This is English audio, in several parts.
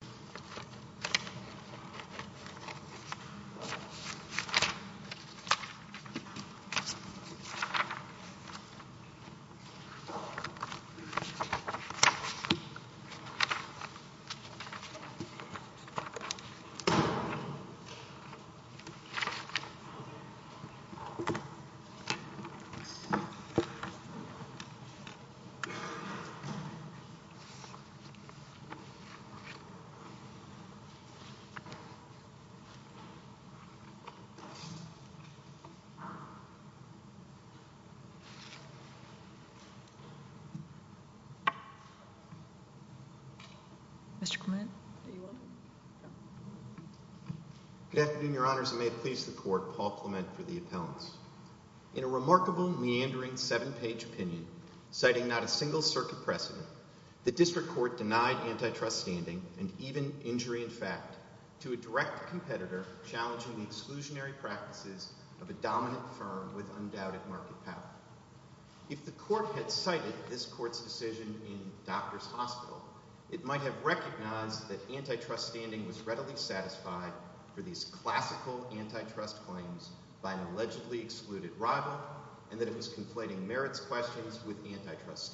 Pulse Network, L.L.C. v. Visa, Incorporated Mr. Clement, are you on? Good afternoon, Your Honors, and may it please the Court, Paul Clement for the appellants. In a remarkable, meandering, seven-page opinion, citing not a single circuit precedent, the to a direct competitor challenging the exclusionary practices of a dominant firm with undoubted market power. If the Court had cited this Court's decision in Doctors Hospital, it might have recognized that antitrust standing was readily satisfied for these classical antitrust claims by an allegedly excluded rival, and that it was conflating merits questions with antitrust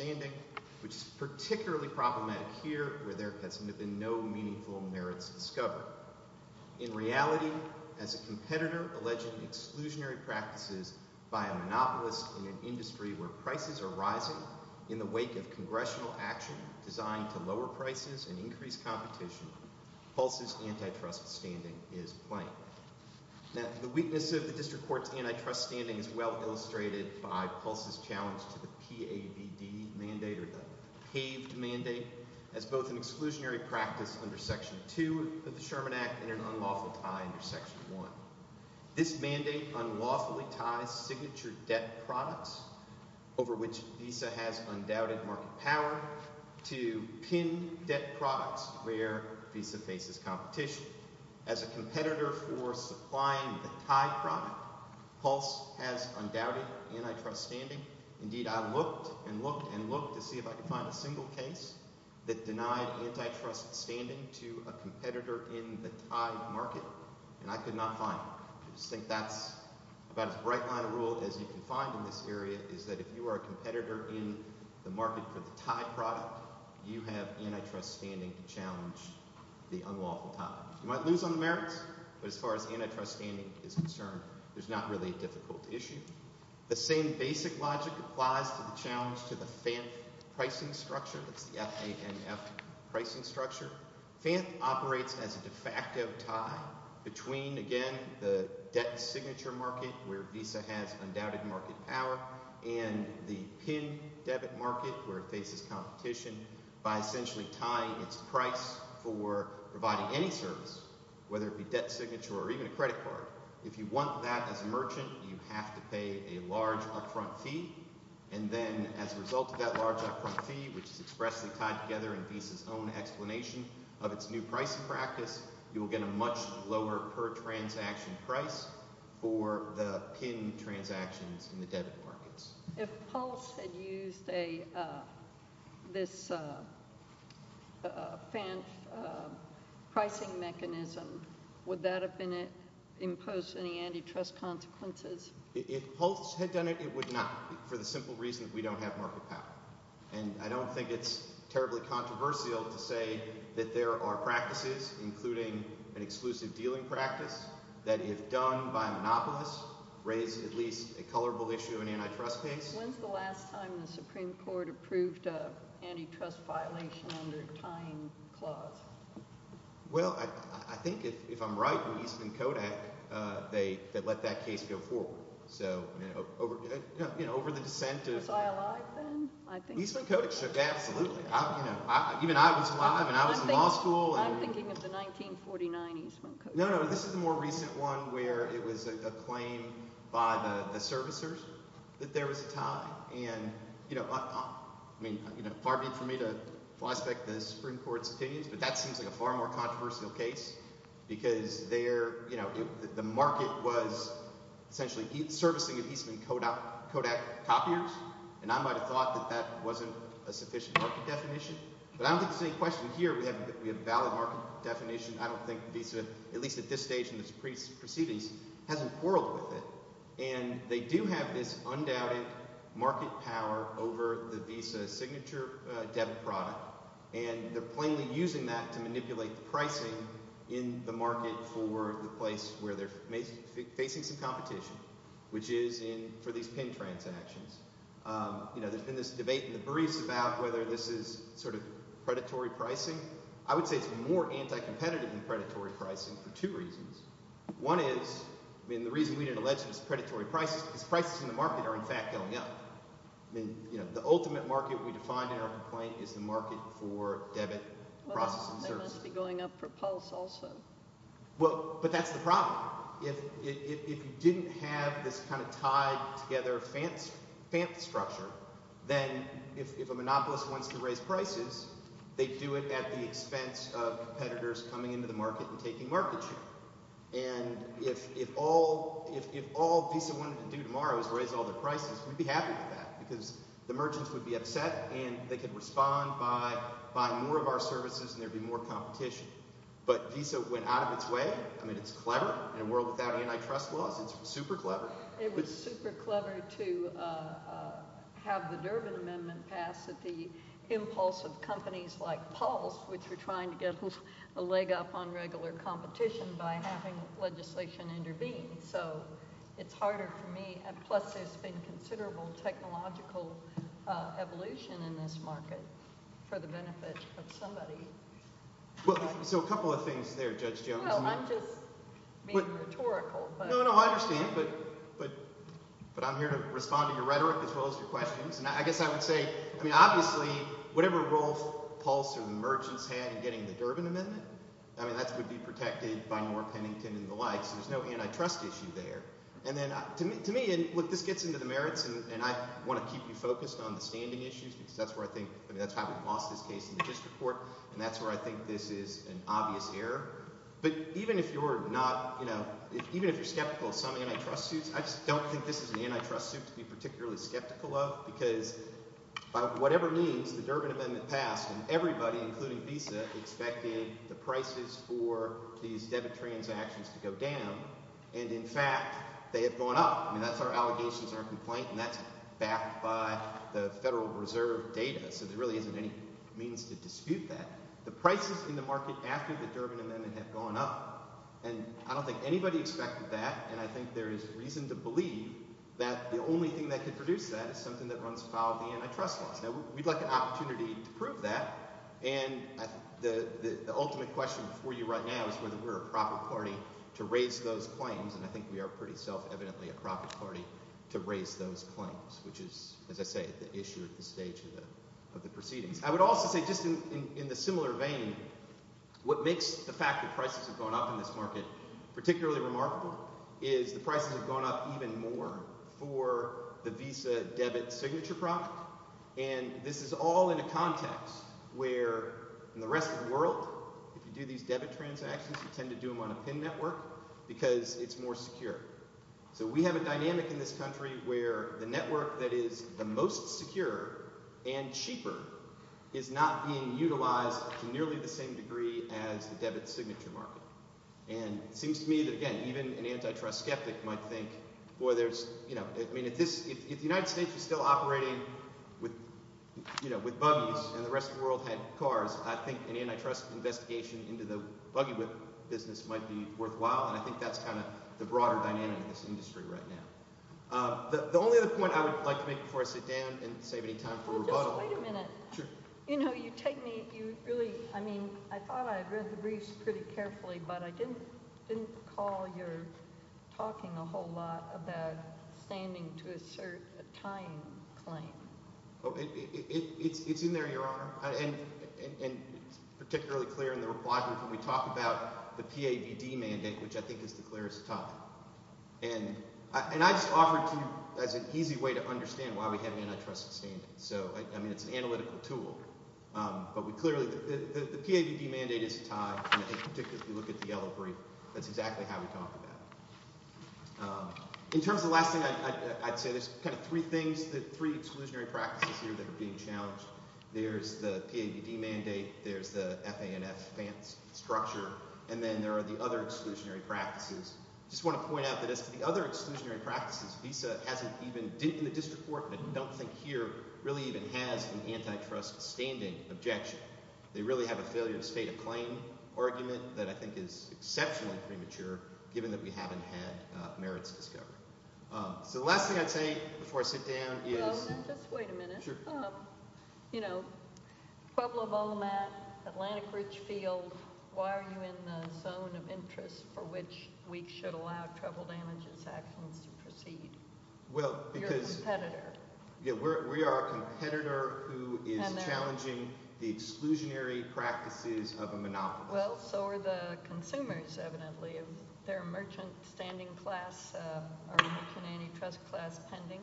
In reality, as a competitor alleging exclusionary practices by a monopolist in an industry where prices are rising in the wake of Congressional action designed to lower prices and increase competition, Pulse's antitrust standing is plain. The weakness of the District Court's antitrust standing is well illustrated by Pulse's challenge to the PABD mandate, or the paved mandate, as both an exclusionary practice under Section 2 of the Sherman Act and an unlawful tie under Section 1. This mandate unlawfully ties signature debt products, over which Visa has undoubted market power, to pinned debt products where Visa faces competition. As a competitor for supplying the tie product, Pulse has undoubted antitrust standing. Indeed, I looked and looked and looked to see if I could find a single case that denied antitrust standing to a competitor in the tie market, and I could not find one. I just think that's about as bright a line of rule as you can find in this area, is that if you are a competitor in the market for the tie product, you have antitrust standing to challenge the unlawful tie. You might lose on the merits, but as far as antitrust standing is concerned, there's not really a difficult issue. The same basic logic applies to the challenge to the FANF pricing structure, that's the F-A-N-F pricing structure. FANF operates as a de facto tie between, again, the debt signature market where Visa has undoubted market power, and the pinned debit market where it faces competition by essentially tying its price for providing any service, whether it be debt signature or even a credit card. If you want that as a merchant, you have to pay a large upfront fee, and then as a result of that large upfront fee, which is expressly tied together in Visa's own explanation of its new pricing practice, you will get a much lower per transaction price for the pinned transactions in the debit markets. If Pulse had used this FANF pricing mechanism, would that have imposed any antitrust consequences? If Pulse had done it, it would not, for the simple reason that we don't have market power. And I don't think it's terribly controversial to say that there are practices, including an exclusive dealing practice, that if done by a monopolist, raise at least a colorable issue in antitrust case. When's the last time the Supreme Court approved an antitrust violation under a tying clause? Well, I think if I'm right, when Eastman Kodak, they let that case go forward. So, you know, over the dissent of— Was I alive then? Eastman Kodak shook, absolutely. Even I was alive, and I was in law school. I'm thinking of the 1949 Eastman Kodak. No, no. This is the more recent one where it was a claim by the servicers that there was a tie. And, you know, I mean, you know, far be it for me to prospect the Supreme Court's opinions, but that seems like a far more controversial case because there, you know, the market was essentially servicing Eastman Kodak copiers, and I might have thought that that wasn't a sufficient market definition. But I don't think there's any question here we have a valid market definition. I don't think Visa, at least at this stage in its proceedings, hasn't quarreled with it. And they do have this undoubted market power over the Visa signature debt product, and they're plainly using that to manipulate the pricing in the market for the place where they're facing some competition, which is for these PIN transactions. You know, there's been this debate in the briefs about whether this is sort of predatory pricing. I would say it's more anti-competitive than predatory pricing for two reasons. One is, I mean, the reason we didn't allege it is predatory prices because prices in the market are, in fact, going up. I mean, you know, the ultimate market we define in our complaint is the market for debit processing services. Well, they must be going up for Pulse also. Well, but that's the problem. If you didn't have this kind of tied together FANTA structure, then if a monopolist wants to raise prices, they do it at the expense of competitors coming into the market and taking market share. And if all Visa wanted to do tomorrow is raise all their prices, we'd be happy with that because the merchants would be upset and they could respond by buying more of our services and there'd be more competition. But Visa went out of its way. I mean, it's clever. In a world without antitrust laws, it's super clever. It was super clever to have the Durbin Amendment passed at the impulse of companies like Pulse, which were trying to get a leg up on regular competition by having legislation intervene. So it's harder for me. Plus, there's been considerable technological evolution in this market for the benefit of somebody. So a couple of things there, Judge Jones. I don't know. I'm just being rhetorical. No, no. I understand. But I'm here to respond to your rhetoric as well as your questions. And I guess I would say, I mean, obviously, whatever role Pulse or the merchants had in getting the Durbin Amendment, I mean, that would be protected by Norm Pennington and the likes. There's no antitrust issue there. And then to me, and look, this gets into the merits, and I want to keep you focused on the standing issues because that's where I think – I mean, that's how we lost this case in the district court. And that's where I think this is an obvious error. But even if you're not – even if you're skeptical of some antitrust suits, I just don't think this is an antitrust suit to be particularly skeptical of because by whatever means, the Durbin Amendment passed and everybody, including Visa, expected the prices for these debit transactions to go down. And in fact, they have gone up. I mean, that's our allegations, our complaint, and that's backed by the Federal Reserve data. So there really isn't any means to dispute that. The prices in the market after the Durbin Amendment have gone up, and I don't think anybody expected that, and I think there is reason to believe that the only thing that could produce that is something that runs foul of the antitrust laws. Now, we'd like an opportunity to prove that, and the ultimate question for you right now is whether we're a proper party to raise those claims, and I think we are pretty self-evidently a proper party to raise those claims, which is, as I say, the issue at this stage of the proceedings. I would also say, just in the similar vein, what makes the fact that prices have gone up in this market particularly remarkable is the prices have gone up even more for the Visa debit signature product, and this is all in a context where in the rest of the world, if you do these debit transactions, you tend to do them on a PIN network because it's more secure. So we have a dynamic in this country where the network that is the most secure and cheaper is not being utilized to nearly the same degree as the debit signature market, and it seems to me that, again, even an antitrust skeptic might think, if the United States is still operating with buggies and the rest of the world had cars, I think an antitrust investigation into the buggy business might be worthwhile, and I think that's kind of the broader dynamic of this industry right now. The only other point I would like to make before I sit down and save any time for rebuttal— Well, just wait a minute. Sure. You know, you take me—you really—I mean, I thought I read the briefs pretty carefully, but I didn't recall your talking a whole lot about standing to assert a tying claim. It's in there, Your Honor, and it's particularly clear in the reply when we talk about the PAVD mandate, which I think is the clearest tie, and I just offer it to you as an easy way to understand why we have antitrust standing. So, I mean, it's an analytical tool, but we clearly—the PAVD mandate is a tie, and particularly if you look at the yellow brief, that's exactly how we talk about it. In terms of the last thing I'd say, there's kind of three things, three exclusionary practices here that are being challenged. There's the PAVD mandate, there's the FANF structure, and then there are the other exclusionary practices. I just want to point out that as to the other exclusionary practices, VISA hasn't even—in the district court, and I don't think here, really even has an antitrust standing objection. They really have a failure to state a claim argument that I think is exceptionally premature given that we haven't had merits discovered. So the last thing I'd say before I sit down is— Well, just wait a minute. Sure. You know, Pueblo-Volmat, Atlantic Ridge Field, why are you in the zone of interest for which we should allow trouble damages actions to proceed? Well, because— You're a competitor. Yeah, we are a competitor who is challenging the exclusionary practices of a monopolist. Well, so are the consumers, evidently. They're a merchant standing class or merchant antitrust class pending.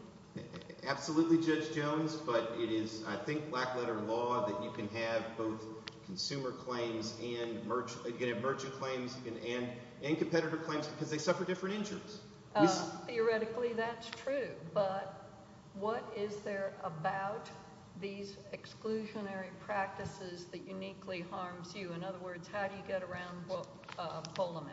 Absolutely, Judge Jones, but it is, I think, black-letter law that you can have both consumer claims and merchant claims and competitor claims because they suffer different injuries. Theoretically, that's true, but what is there about these exclusionary practices that uniquely harms you? In other words, how do you get around Volmat?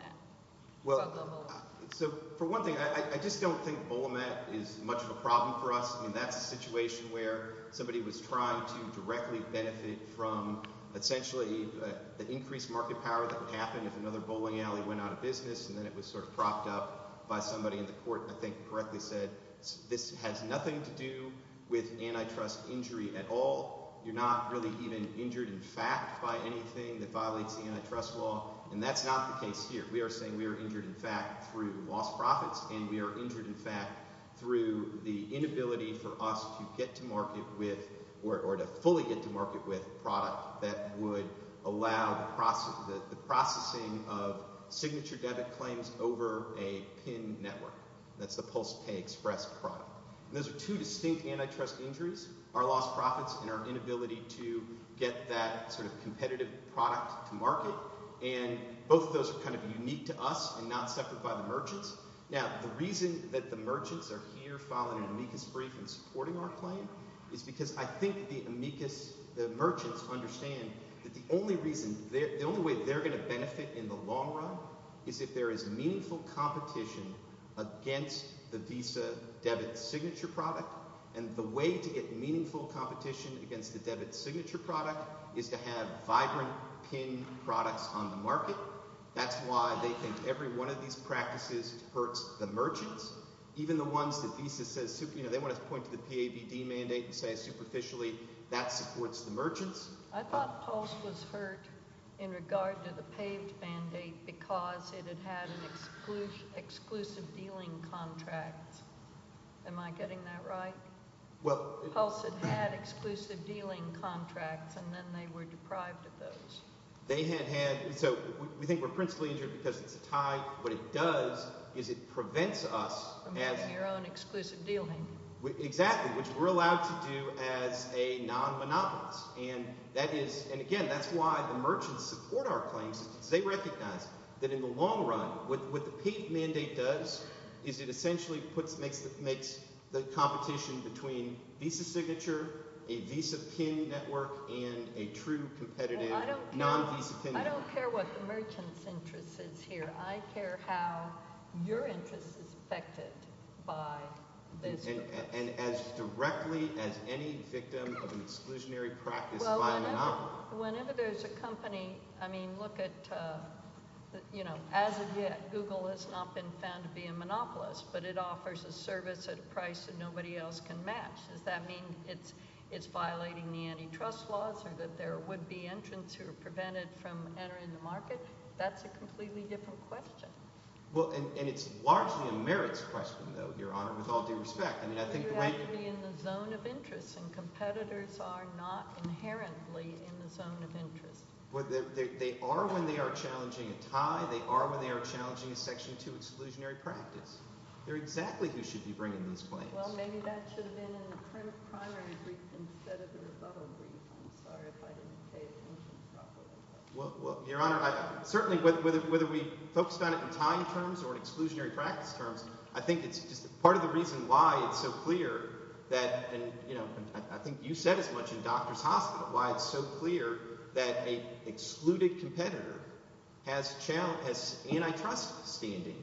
Well, so for one thing, I just don't think Volmat is much of a problem for us. I mean, that's a situation where somebody was trying to directly benefit from essentially the increased market power that would happen if another bowling alley went out of business and then it was sort of propped up by somebody in the court that I think correctly said, this has nothing to do with antitrust injury at all. You're not really even injured in fact by anything that violates the antitrust law, and that's not the case here. We are saying we are injured in fact through lost profits and we are injured in fact through the inability for us to get to market with or to fully get to market with a product that would allow the processing of signature debit claims over a PIN network. That's the post-pay express product. Those are two distinct antitrust injuries, our lost profits and our inability to get that sort of competitive product to market, and both of those are kind of unique to us and not separate by the merchants. Now, the reason that the merchants are here filing an amicus brief and supporting our claim is because I think the amicus, the merchants understand that the only reason, the only way they're going to benefit in the long run is if there is meaningful competition against the Visa debit signature product, and the way to get meaningful competition against the debit signature product is to have vibrant PIN products on the market. That's why they think every one of these practices hurts the merchants, even the ones that Visa says, you know, they want to point to the PAVD mandate and say superficially that supports the merchants. I thought Pulse was hurt in regard to the PAVD mandate because it had had an exclusive dealing contract. Am I getting that right? Pulse had had exclusive dealing contracts, and then they were deprived of those. They had had – so we think we're principally injured because it's a tie. What it does is it prevents us as – From having your own exclusive dealing. Exactly, which we're allowed to do as a non-monopolist, and that is – and again, that's why the merchants support our claims because they recognize that in the long run what the PAVD mandate does is it essentially makes the competition between Visa signature, a Visa PIN network, and a true competitive non-Visa PIN network. I don't care what the merchant's interest is here. I care how your interest is affected by this. And as directly as any victim of an exclusionary practice by a monopolist. Whenever there's a company – I mean, look at – as of yet, Google has not been found to be a monopolist, but it offers a service at a price that nobody else can match. Does that mean it's violating the antitrust laws or that there would be entrants who are prevented from entering the market? That's a completely different question. Well, and it's largely a merits question, though, Your Honor, with all due respect. You have to be in the zone of interest, and competitors are not inherently in the zone of interest. They are when they are challenging a tie. They are when they are challenging a Section 2 exclusionary practice. They're exactly who should be bringing these claims. Well, maybe that should have been in the primary brief instead of the rebuttal brief. I'm sorry if I didn't pay attention properly. Well, Your Honor, certainly whether we focused on it in tie terms or in exclusionary practice terms, I think it's just part of the reason why it's so clear that – and I think you said as much in Doctors Hospital – why it's so clear that an excluded competitor has antitrust standing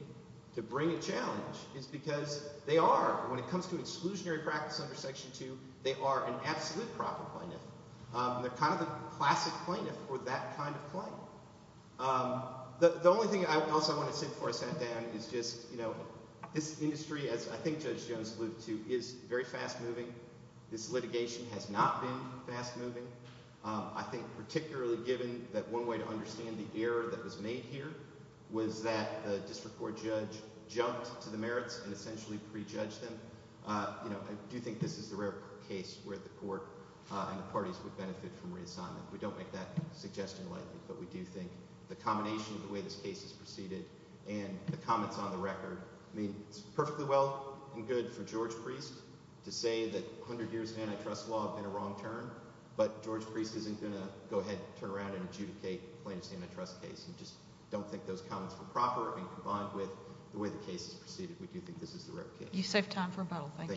to bring a challenge is because they are, when it comes to exclusionary practice under Section 2, they are an absolute proper plaintiff. They're kind of the classic plaintiff for that kind of claim. The only thing else I want to say before I sat down is just this industry, as I think Judge Jones alluded to, is very fast-moving. This litigation has not been fast-moving. I think particularly given that one way to understand the error that was made here was that the district court judge jumped to the merits and essentially prejudged them. I do think this is the rare case where the court and the parties would benefit from reassignment. We don't make that suggestion lightly, but we do think the combination of the way this case is proceeded and the comments on the record, I mean, it's perfectly well and good for George Priest to say that 100 years of antitrust law have been a wrong turn, but George Priest isn't going to go ahead and turn around and adjudicate a plaintiff's antitrust case. I just don't think those comments were proper and combined with the way the case is proceeded. We do think this is the rare case. Thank you.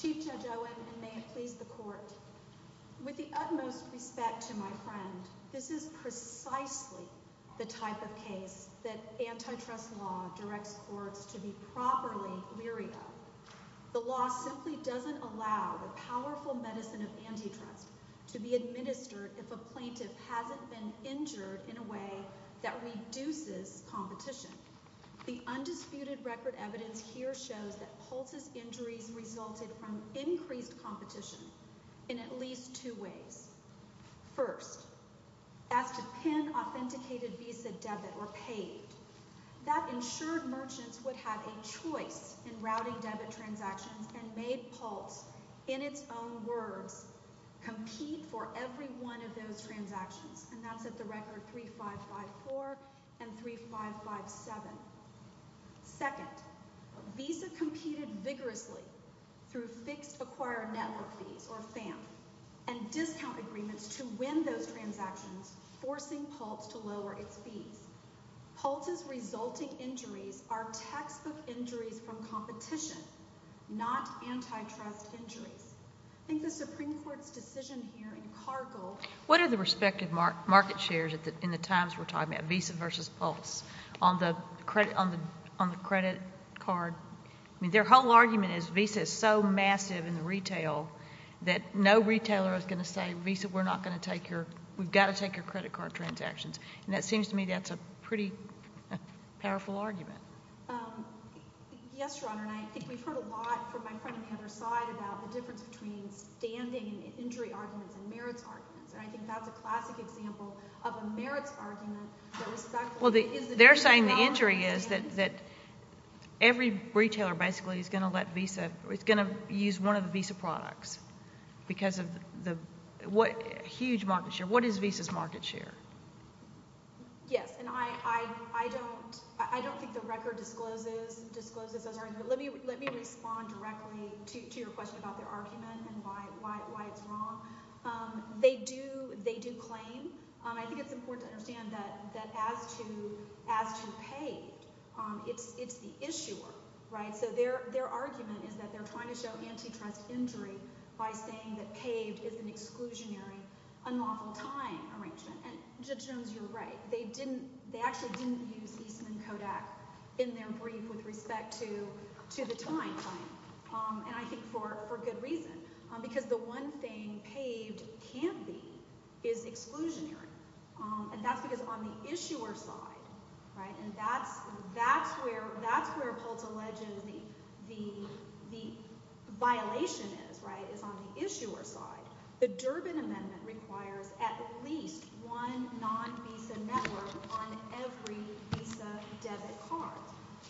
Chief Judge Owen, and may it please the Court, with the utmost respect to my friend, this is precisely the type of case that antitrust law directs courts to be properly leery of. The law simply doesn't allow the powerful medicine of antitrust to be administered if a plaintiff hasn't been injured in a way that reduces competition. The undisputed record evidence here shows that Pulse's injuries resulted from increased competition in at least two ways. First, as to pin authenticated Visa debit or paid, that ensured merchants would have a choice in routing debit transactions and made Pulse, in its own words, compete for every one of those transactions, and that's at the record 3554 and 3557. Second, Visa competed vigorously through fixed acquired network fees, or FAM, and discount agreements to win those transactions, forcing Pulse to lower its fees. Pulse's resulting injuries are textbook injuries from competition, not antitrust injuries. I think the Supreme Court's decision here in Cargill— What are the respective market shares in the times we're talking about, Visa versus Pulse, on the credit card? I mean, their whole argument is Visa is so massive in the retail that no retailer is going to say, Visa, we're not going to take your—we've got to take your credit card transactions, and it seems to me that's a pretty powerful argument. Yes, Your Honor, and I think we've heard a lot from my friend on the other side about the difference between standing injury arguments and merits arguments, and I think that's a classic example of a merits argument that was— Well, they're saying the injury is that every retailer basically is going to let Visa— is going to use one of the Visa products because of the huge market share. What is Visa's market share? Yes, and I don't think the record discloses those arguments. Let me respond directly to your question about their argument and why it's wrong. They do claim—I think it's important to understand that as to Paved, it's the issuer, right? So their argument is that they're trying to show antitrust injury by saying that Paved is an exclusionary, unlawful time arrangement, and Judge Jones, you're right. They didn't—they actually didn't use Eastman Kodak in their brief with respect to the time claim, and I think for good reason because the one thing Paved can't be is exclusionary, and that's because on the issuer side, right, and that's where Pulse alleges the violation is, right, the Durbin Amendment requires at least one non-Visa network on every Visa debit card.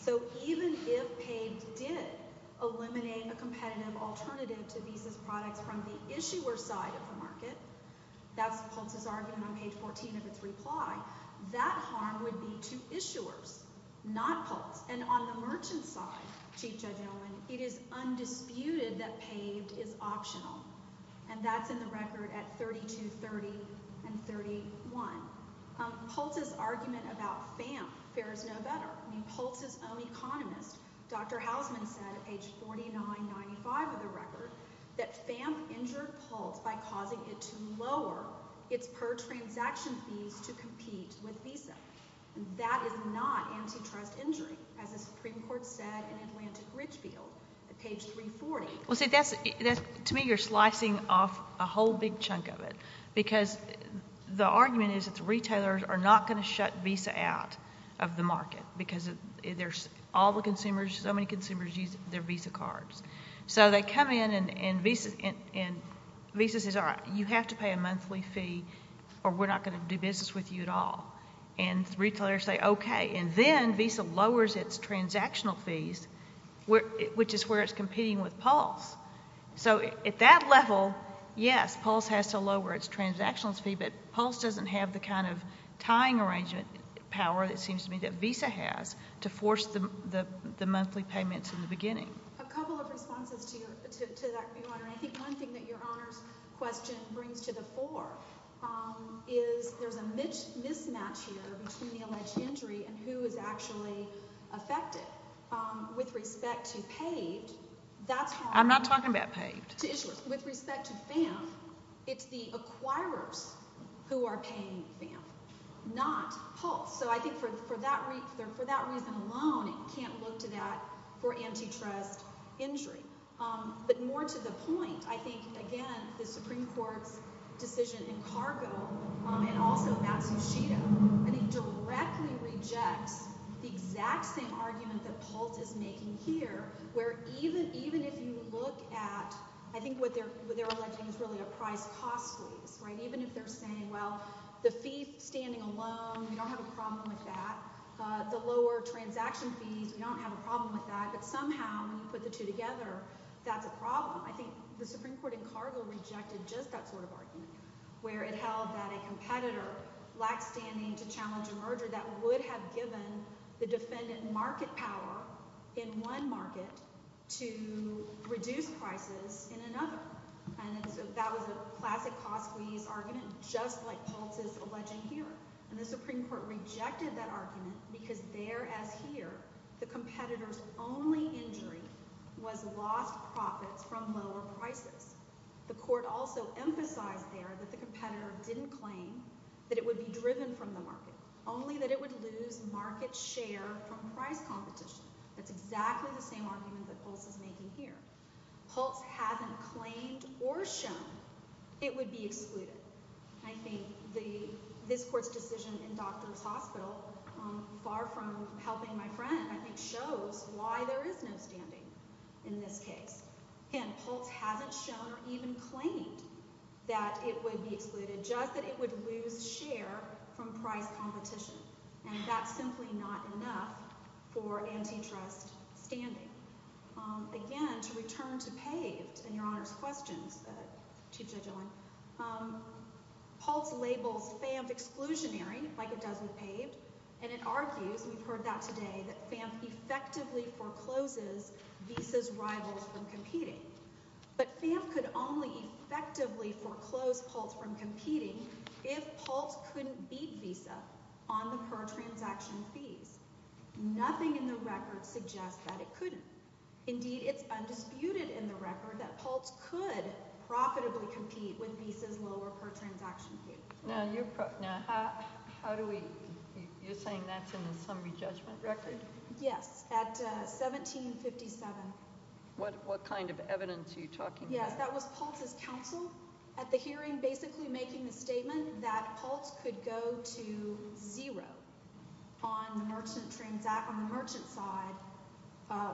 So even if Paved did eliminate a competitive alternative to Visa's products from the issuer side of the market— that's Pulse's argument on page 14 of its reply—that harm would be to issuers, not Pulse. And on the merchant side, Chief Judge Owen, it is undisputed that Paved is optional, and that's in the record at 3230 and 31. Pulse's argument about FAMP fares no better. I mean, Pulse's own economist, Dr. Hausman, said at page 4995 of the record that FAMP injured Pulse by causing it to lower its per-transaction fees to compete with Visa. That is not antitrust injury, as the Supreme Court said in Atlantic Ridgefield at page 340. Well, see, to me you're slicing off a whole big chunk of it, because the argument is that the retailers are not going to shut Visa out of the market because there's all the consumers, so many consumers use their Visa cards. So they come in and Visa says, all right, you have to pay a monthly fee or we're not going to do business with you at all. And retailers say, okay. And then Visa lowers its transactional fees, which is where it's competing with Pulse. So at that level, yes, Pulse has to lower its transactional fee, but Pulse doesn't have the kind of tying arrangement power, it seems to me, that Visa has to force the monthly payments in the beginning. A couple of responses to that, Your Honor. And I think one thing that Your Honor's question brings to the fore is there's a mismatch here between the alleged injury and who is actually affected. With respect to PAVD, that's how I'm going to issue it. I'm not talking about PAVD. With respect to FAMF, it's the acquirers who are paying FAMF, not Pulse. So I think for that reason alone, it can't look to that for antitrust injury. But more to the point, I think, again, the Supreme Court's decision in Cargo and also Matsushita, I think, directly rejects the exact same argument that Pulse is making here, where even if you look at, I think what they're alleging is really a price-cost lease. Even if they're saying, well, the fee standing alone, we don't have a problem with that. The lower transaction fees, we don't have a problem with that. But somehow, when you put the two together, that's a problem. I think the Supreme Court in Cargo rejected just that sort of argument, where it held that a competitor lacked standing to challenge a merger that would have given the defendant market power in one market to reduce prices in another. And so that was a classic cost-squeeze argument, just like Pulse is alleging here. And the Supreme Court rejected that argument because there, as here, the competitor's only injury was lost profits from lower prices. The court also emphasized there that the competitor didn't claim that it would be driven from the market, only that it would lose market share from price competition. That's exactly the same argument that Pulse is making here. Pulse hasn't claimed or shown it would be excluded. I think this court's decision in Doctors Hospital, far from helping my friend, I think shows why there is no standing in this case. And Pulse hasn't shown or even claimed that it would be excluded, just that it would lose share from price competition. And that's simply not enough for antitrust standing. Again, to return to PAVED and Your Honor's questions, Chief Judge Owen, Pulse labels FAMF exclusionary, like it does with PAVED, and it argues, we've heard that today, that FAMF effectively forecloses Visa's rivals from competing. But FAMF could only effectively foreclose Pulse from competing if Pulse couldn't beat Visa on the per-transaction fees. Nothing in the record suggests that it couldn't. Indeed, it's undisputed in the record that Pulse could profitably compete with Visa's lower per-transaction fee. Now, you're saying that's in the summary judgment record? Yes, at 1757. What kind of evidence are you talking about? Yes, that was Pulse's counsel at the hearing, basically making the statement that Pulse could go to zero on the merchant side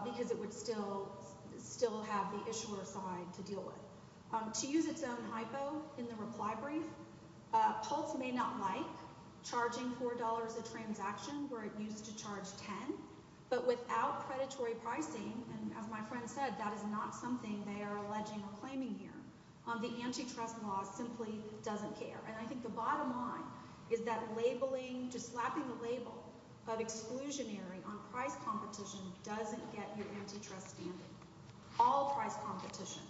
because it would still have the issuer side to deal with. To use its own hypo in the reply brief, Pulse may not like charging $4 a transaction where it used to charge $10, but without predatory pricing, and as my friend said, that is not something they are alleging or claiming here. The antitrust law simply doesn't care. I think the bottom line is that just slapping the label of exclusionary on price competition doesn't get your antitrust standing. All price competition,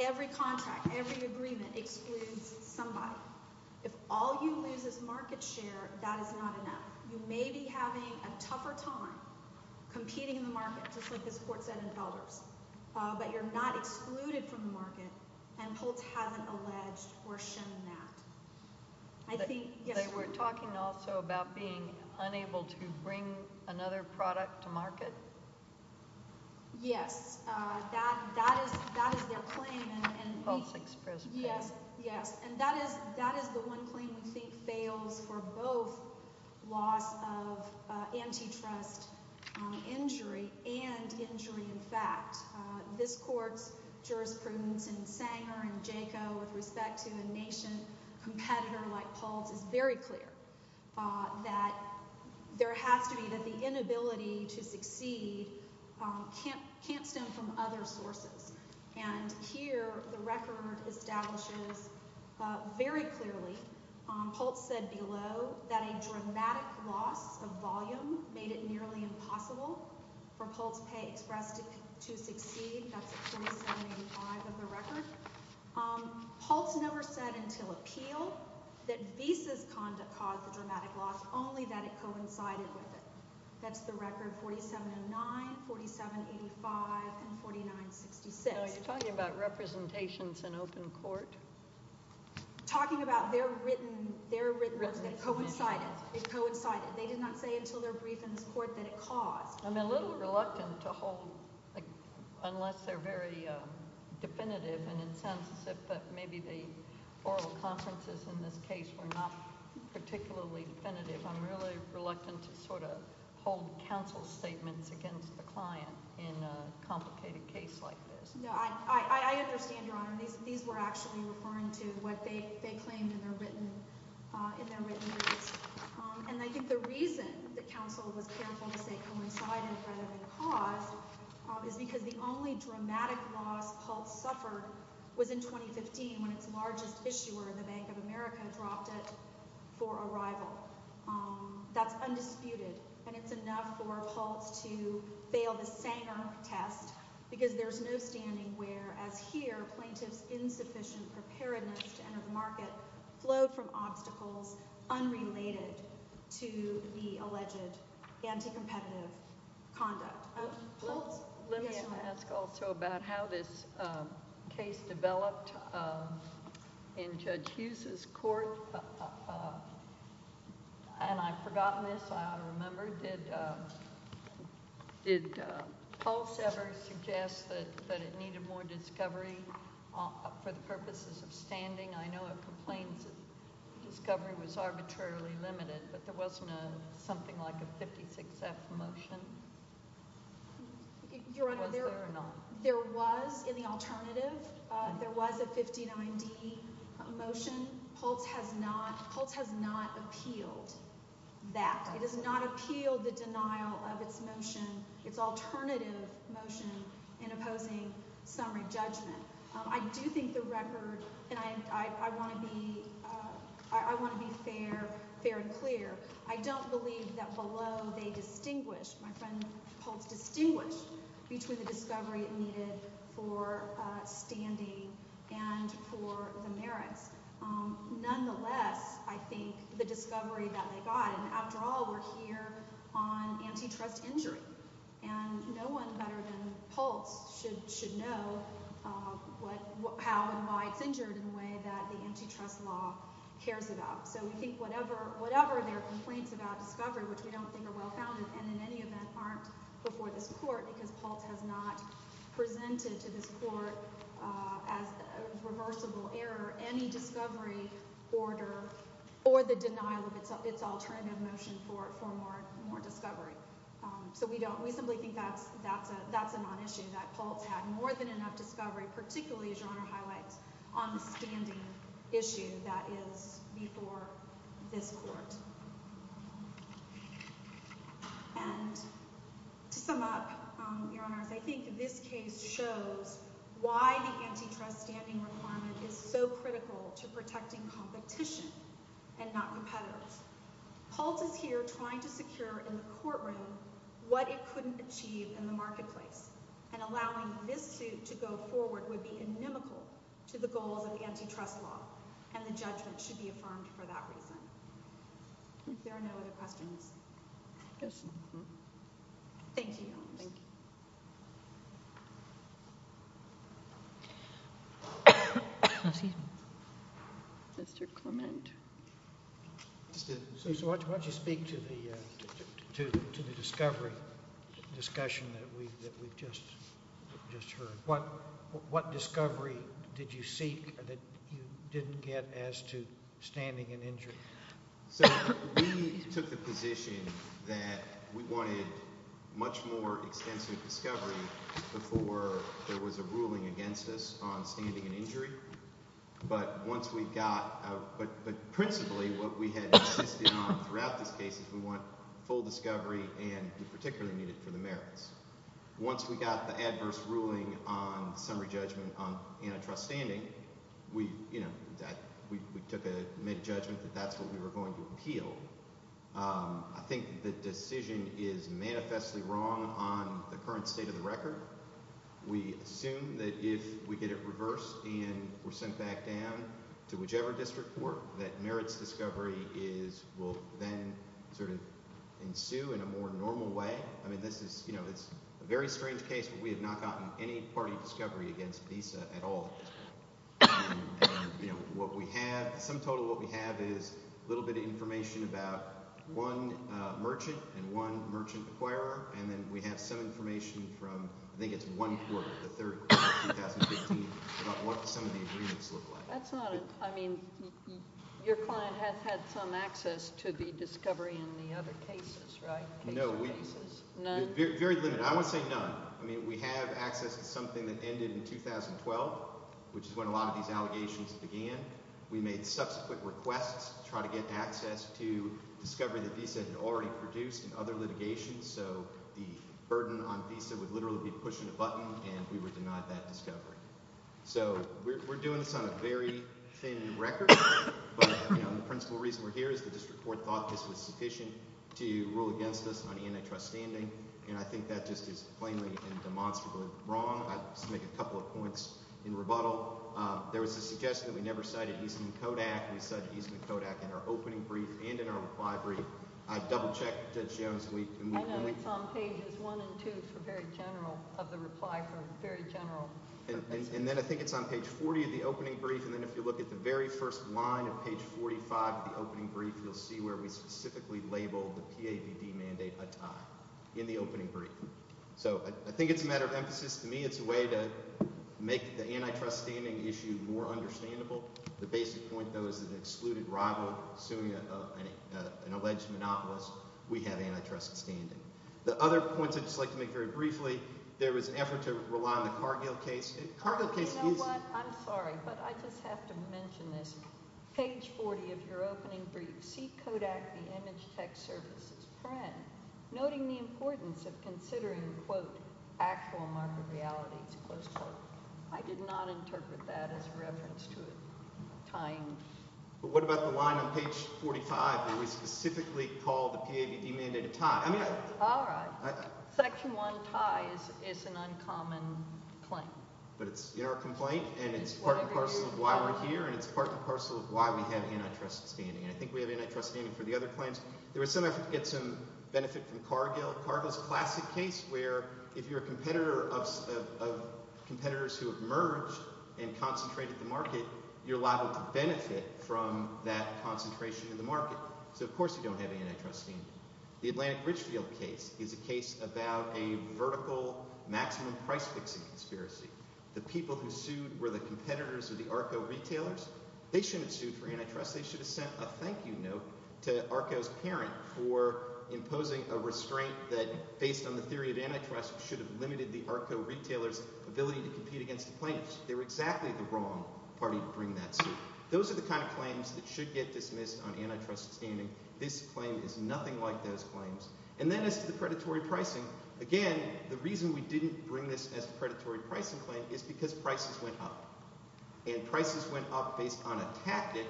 every contract, every agreement excludes somebody. If all you lose is market share, that is not enough. You may be having a tougher time competing in the market, just like this court said in Felder's, but you're not excluded from the market, and Pulse hasn't alleged or shown that. They were talking also about being unable to bring another product to market? Yes, that is their claim. Pulse expressed pain. Yes, yes, and that is the one claim we think fails for both loss of antitrust injury and injury in fact. This court's jurisprudence in Sanger and Jaco with respect to a nation competitor like Pulse is very clear that there has to be that the inability to succeed can't stem from other sources, and here the record establishes very clearly, Pulse said below, that a dramatic loss of volume made it nearly impossible for Pulse Pay Express to succeed. That's 2785 of the record. Pulse never said until appeal that Visa's conduct caused the dramatic loss, only that it coincided with it. That's the record, 4709, 4785, and 4966. So you're talking about representations in open court? Talking about their written records that coincided. They coincided. They did not say until their brief in this court that it caused. I'm a little reluctant to hold, unless they're very definitive and insensitive, but maybe the oral conferences in this case were not particularly definitive. I'm really reluctant to sort of hold counsel's statements against the client in a complicated case like this. No, I understand, Your Honor. These were actually referring to what they claimed in their written notes, and I think the reason that counsel was careful to say it coincided rather than caused is because the only dramatic loss Pulse suffered was in 2015 when its largest issuer, the Bank of America, dropped it for arrival. That's undisputed, and it's enough for Pulse to fail the Sanger test because there's no standing where, as here, plaintiff's insufficient preparedness to enter the market flowed from obstacles unrelated to the alleged anti-competitive conduct. Let me ask also about how this case developed in Judge Hughes' court, and I've forgotten this, I ought to remember. Did Pulse ever suggest that it needed more discovery for the purposes of standing? I know it complains that discovery was arbitrarily limited, but there wasn't something like a 56-F motion, was there or not? Your Honor, there was, in the alternative, there was a 59-D motion. Pulse has not appealed that. It has not appealed the denial of its alternative motion in opposing summary judgment. I do think the record, and I want to be fair and clear, I don't believe that below they distinguished, my friend Pulse distinguished, between the discovery it needed for standing and for the merits. Nonetheless, I think the discovery that they got, and after all, we're here on antitrust injury, and no one better than Pulse should know how and why it's injured in a way that the antitrust law cares about. So we think whatever their complaints about discovery, which we don't think are well-founded, and in any event aren't before this court because Pulse has not presented to this court as a reversible error, any discovery order or the denial of its alternative motion for more discovery. So we simply think that's a non-issue, that Pulse had more than enough discovery, particularly, as Your Honor highlights, on the standing issue that is before this court. And to sum up, Your Honors, I think this case shows why the antitrust standing requirement is so critical to protecting competition and not competitors. But Pulse is here trying to secure in the courtroom what it couldn't achieve in the marketplace, and allowing this suit to go forward would be inimical to the goals of antitrust law, and the judgment should be affirmed for that reason. If there are no other questions. Yes. Thank you, Your Honors. Thank you. Mr. Clement. So why don't you speak to the discovery discussion that we've just heard. What discovery did you seek that you didn't get as to standing and injury? So we took the position that we wanted much more extensive discovery before there was a ruling against us on standing and injury. But once we got – but principally what we had insisted on throughout this case is we want full discovery, and we particularly need it for the merits. Once we got the adverse ruling on summary judgment on antitrust standing, we took a – made a judgment that that's what we were going to appeal. I think the decision is manifestly wrong on the current state of the record. We assume that if we get it reversed and we're sent back down to whichever district court, that merits discovery is – will then sort of ensue in a more normal way. I mean this is – it's a very strange case, but we have not gotten any party discovery against Visa at all. And what we have – the sum total of what we have is a little bit of information about one merchant and one merchant acquirer, and then we have some information from – I think it's one court, the third court in 2015 about what some of the agreements look like. That's not – I mean your client has had some access to the discovery in the other cases, right? No. None? Very limited. I would say none. I mean we have access to something that ended in 2012, which is when a lot of these allegations began. We made subsequent requests to try to get access to discovery that Visa had already produced in other litigations, so the burden on Visa would literally be pushing a button, and we were denied that discovery. So we're doing this on a very thin record. But the principal reason we're here is the district court thought this was sufficient to rule against us on antitrust standing, and I think that just is plainly and demonstrably wrong. I'll just make a couple of points in rebuttal. There was a suggestion that we never cited Eastman Kodak. We cited Eastman Kodak in our opening brief and in our reply brief. I double-checked Judge Jones and we – I know. It's on pages one and two for very general – of the reply for very general – and then I think it's on page 40 of the opening brief, and then if you look at the very first line of page 45 of the opening brief, you'll see where we specifically labeled the PAPD mandate a tie in the opening brief. So I think it's a matter of emphasis. To me, it's a way to make the antitrust standing issue more understandable. The basic point, though, is that an excluded rival suing an alleged monopolist, we have antitrust standing. The other point I'd just like to make very briefly, there was an effort to rely on the Cargill case. You know what? I'm sorry, but I just have to mention this. Page 40 of your opening brief, see Kodak, the Image Tech Services print, noting the importance of considering, quote, actual market realities, close quote. I did not interpret that as a reference to a tying. But what about the line on page 45 where we specifically called the PAPD mandate a tie? All right. Section 1 tie is an uncommon claim. But it's in our complaint, and it's part and parcel of why we're here, and it's part and parcel of why we have antitrust standing. And I think we have antitrust standing for the other claims. There was some effort to get some benefit from Cargill. Cargill's a classic case where if you're a competitor of competitors who have merged and concentrated the market, you're liable to benefit from that concentration in the market. So of course you don't have antitrust standing. The Atlantic Richfield case is a case about a vertical maximum price fixing conspiracy. The people who sued were the competitors of the ARCO retailers. They shouldn't have sued for antitrust. They should have sent a thank you note to ARCO's parent for imposing a restraint that, based on the theory of antitrust, should have limited the ARCO retailers' ability to compete against the plaintiffs. They were exactly the wrong party to bring that suit. Those are the kind of claims that should get dismissed on antitrust standing. This claim is nothing like those claims. And then as to the predatory pricing, again, the reason we didn't bring this as a predatory pricing claim is because prices went up. And prices went up based on a tactic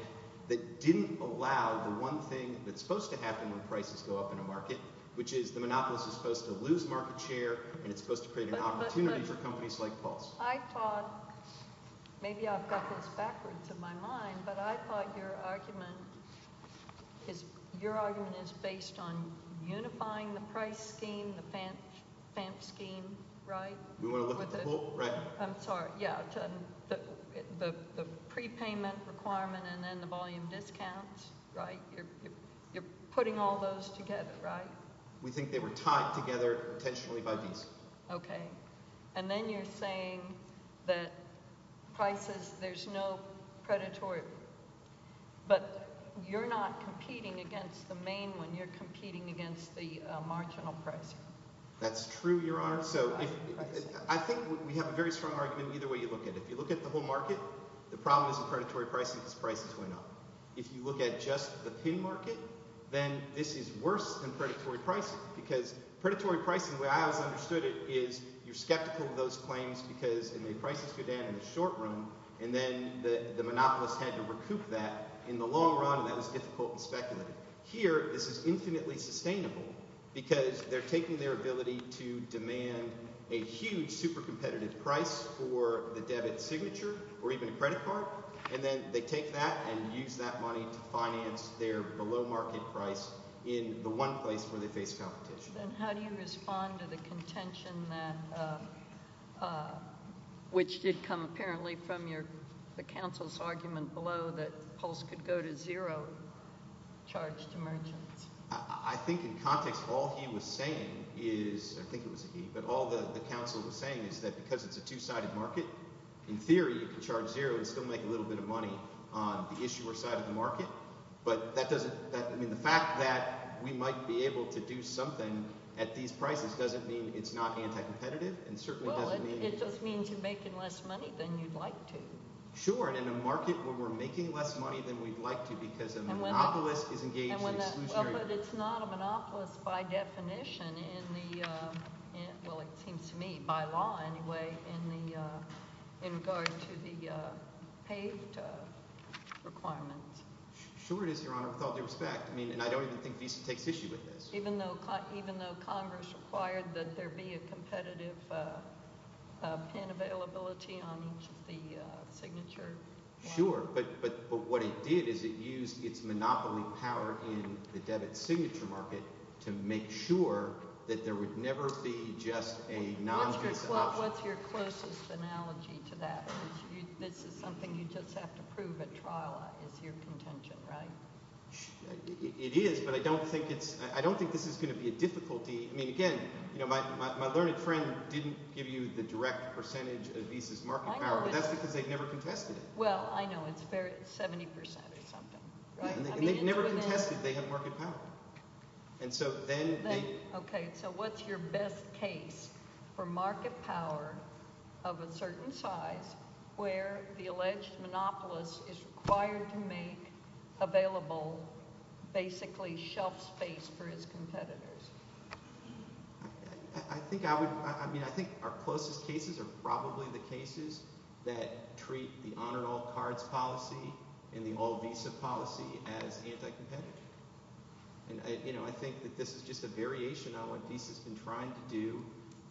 that didn't allow the one thing that's supposed to happen when prices go up in a market, which is the monopolist is supposed to lose market share, and it's supposed to create an opportunity for companies like Pulse. I thought – maybe I've got this backwards in my mind, but I thought your argument is based on unifying the price scheme, the FAMP scheme, right? We want to look at the whole – right. I'm sorry. Yeah. The prepayment requirement and then the volume discounts, right? You're putting all those together, right? We think they were tied together intentionally by these. Okay. And then you're saying that prices – there's no predatory – but you're not competing against the main one. You're competing against the marginal price. That's true, Your Honor. So I think we have a very strong argument either way you look at it. If you look at the whole market, the problem isn't predatory pricing because prices went up. If you look at just the pin market, then this is worse than predatory pricing because predatory pricing, the way I always understood it, is you're skeptical of those claims because the prices go down in the short run, and then the monopolist had to recoup that in the long run, and that was difficult and speculative. Here, this is infinitely sustainable because they're taking their ability to demand a huge, super competitive price for the debit signature or even a credit card, and then they take that and use that money to finance their below-market price in the one place where they face competition. Then how do you respond to the contention that – which did come apparently from the counsel's argument below that Pulse could go to zero charged to merchants? I think in context all he was saying is – I think it was he – but all the counsel was saying is that because it's a two-sided market, in theory you can charge zero and still make a little bit of money on the issuer side of the market. But that doesn't – I mean the fact that we might be able to do something at these prices doesn't mean it's not anti-competitive and certainly doesn't mean – Well, it just means you're making less money than you'd like to. Sure, and in a market where we're making less money than we'd like to because a monopolist is engaged in exclusionary – Sure it is, Your Honor, with all due respect, and I don't even think Visa takes issue with this. Even though Congress required that there be a competitive pin availability on each of the signature – Sure, but what it did is it used its monopoly power in the debit signature market to make sure that there would never be just a non-visa option. What's your closest analogy to that? This is something you just have to prove at trial is your contention, right? It is, but I don't think it's – I don't think this is going to be a difficulty. I mean again, my learned friend didn't give you the direct percentage of Visa's market power. I know, but – But that's because they've never contested it. Well, I know. It's 70 percent or something, right? And they've never contested they have market power. And so then they – Okay, so what's your best case for market power of a certain size where the alleged monopolist is required to make available basically shelf space for his competitors? I think I would – I mean I think our closest cases are probably the cases that treat the honor all cards policy and the all-Visa policy as anti-competitive. And I think that this is just a variation on what Visa's been trying to do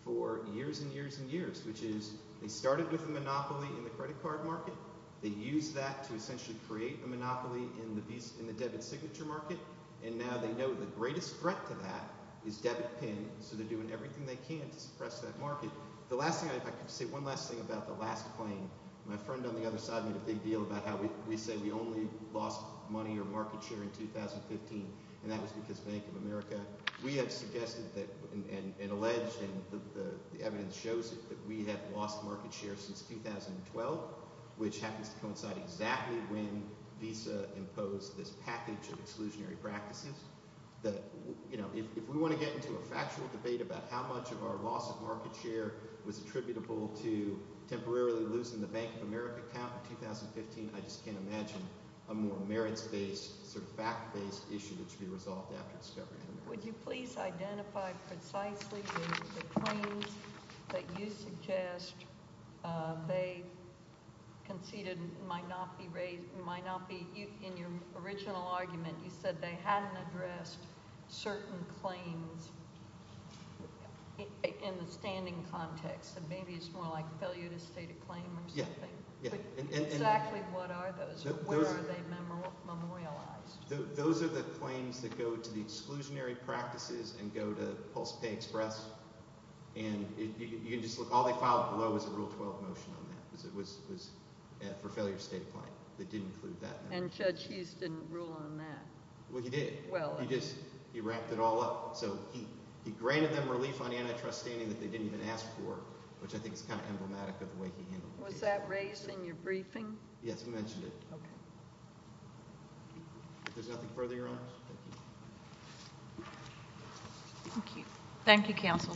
for years and years and years, which is they started with a monopoly in the credit card market. They used that to essentially create a monopoly in the debit signature market. And now they know the greatest threat to that is debit pin, so they're doing everything they can to suppress that market. If I could say one last thing about the last claim, my friend on the other side made a big deal about how we say we only lost money or market share in 2015, and that was because Bank of America. We have suggested that – and alleged, and the evidence shows that we have lost market share since 2012, which happens to coincide exactly when Visa imposed this package of exclusionary practices. That if we want to get into a factual debate about how much of our loss of market share was attributable to temporarily losing the Bank of America account in 2015, I just can't imagine a more merits-based, sort of fact-based issue that should be resolved after discovery. Would you please identify precisely the claims that you suggest they conceded might not be – in your original argument, you said they hadn't addressed certain claims in the standing context. So maybe it's more like a failure to state a claim or something. Exactly what are those? Where are they memorialized? Those are the claims that go to the exclusionary practices and go to Pulse Pay Express, and you can just look. All they filed below was a Rule 12 motion on that because it was for failure to state a claim. They didn't include that. And Judge Houston ruled on that. Well, he did. Well – He just – he wrapped it all up. So he granted them relief on antitrust standing that they didn't even ask for, which I think is kind of emblematic of the way he handled the case. Was that raised in your briefing? Yes, we mentioned it. Okay. If there's nothing further, Your Honor. Thank you. Thank you, counsel.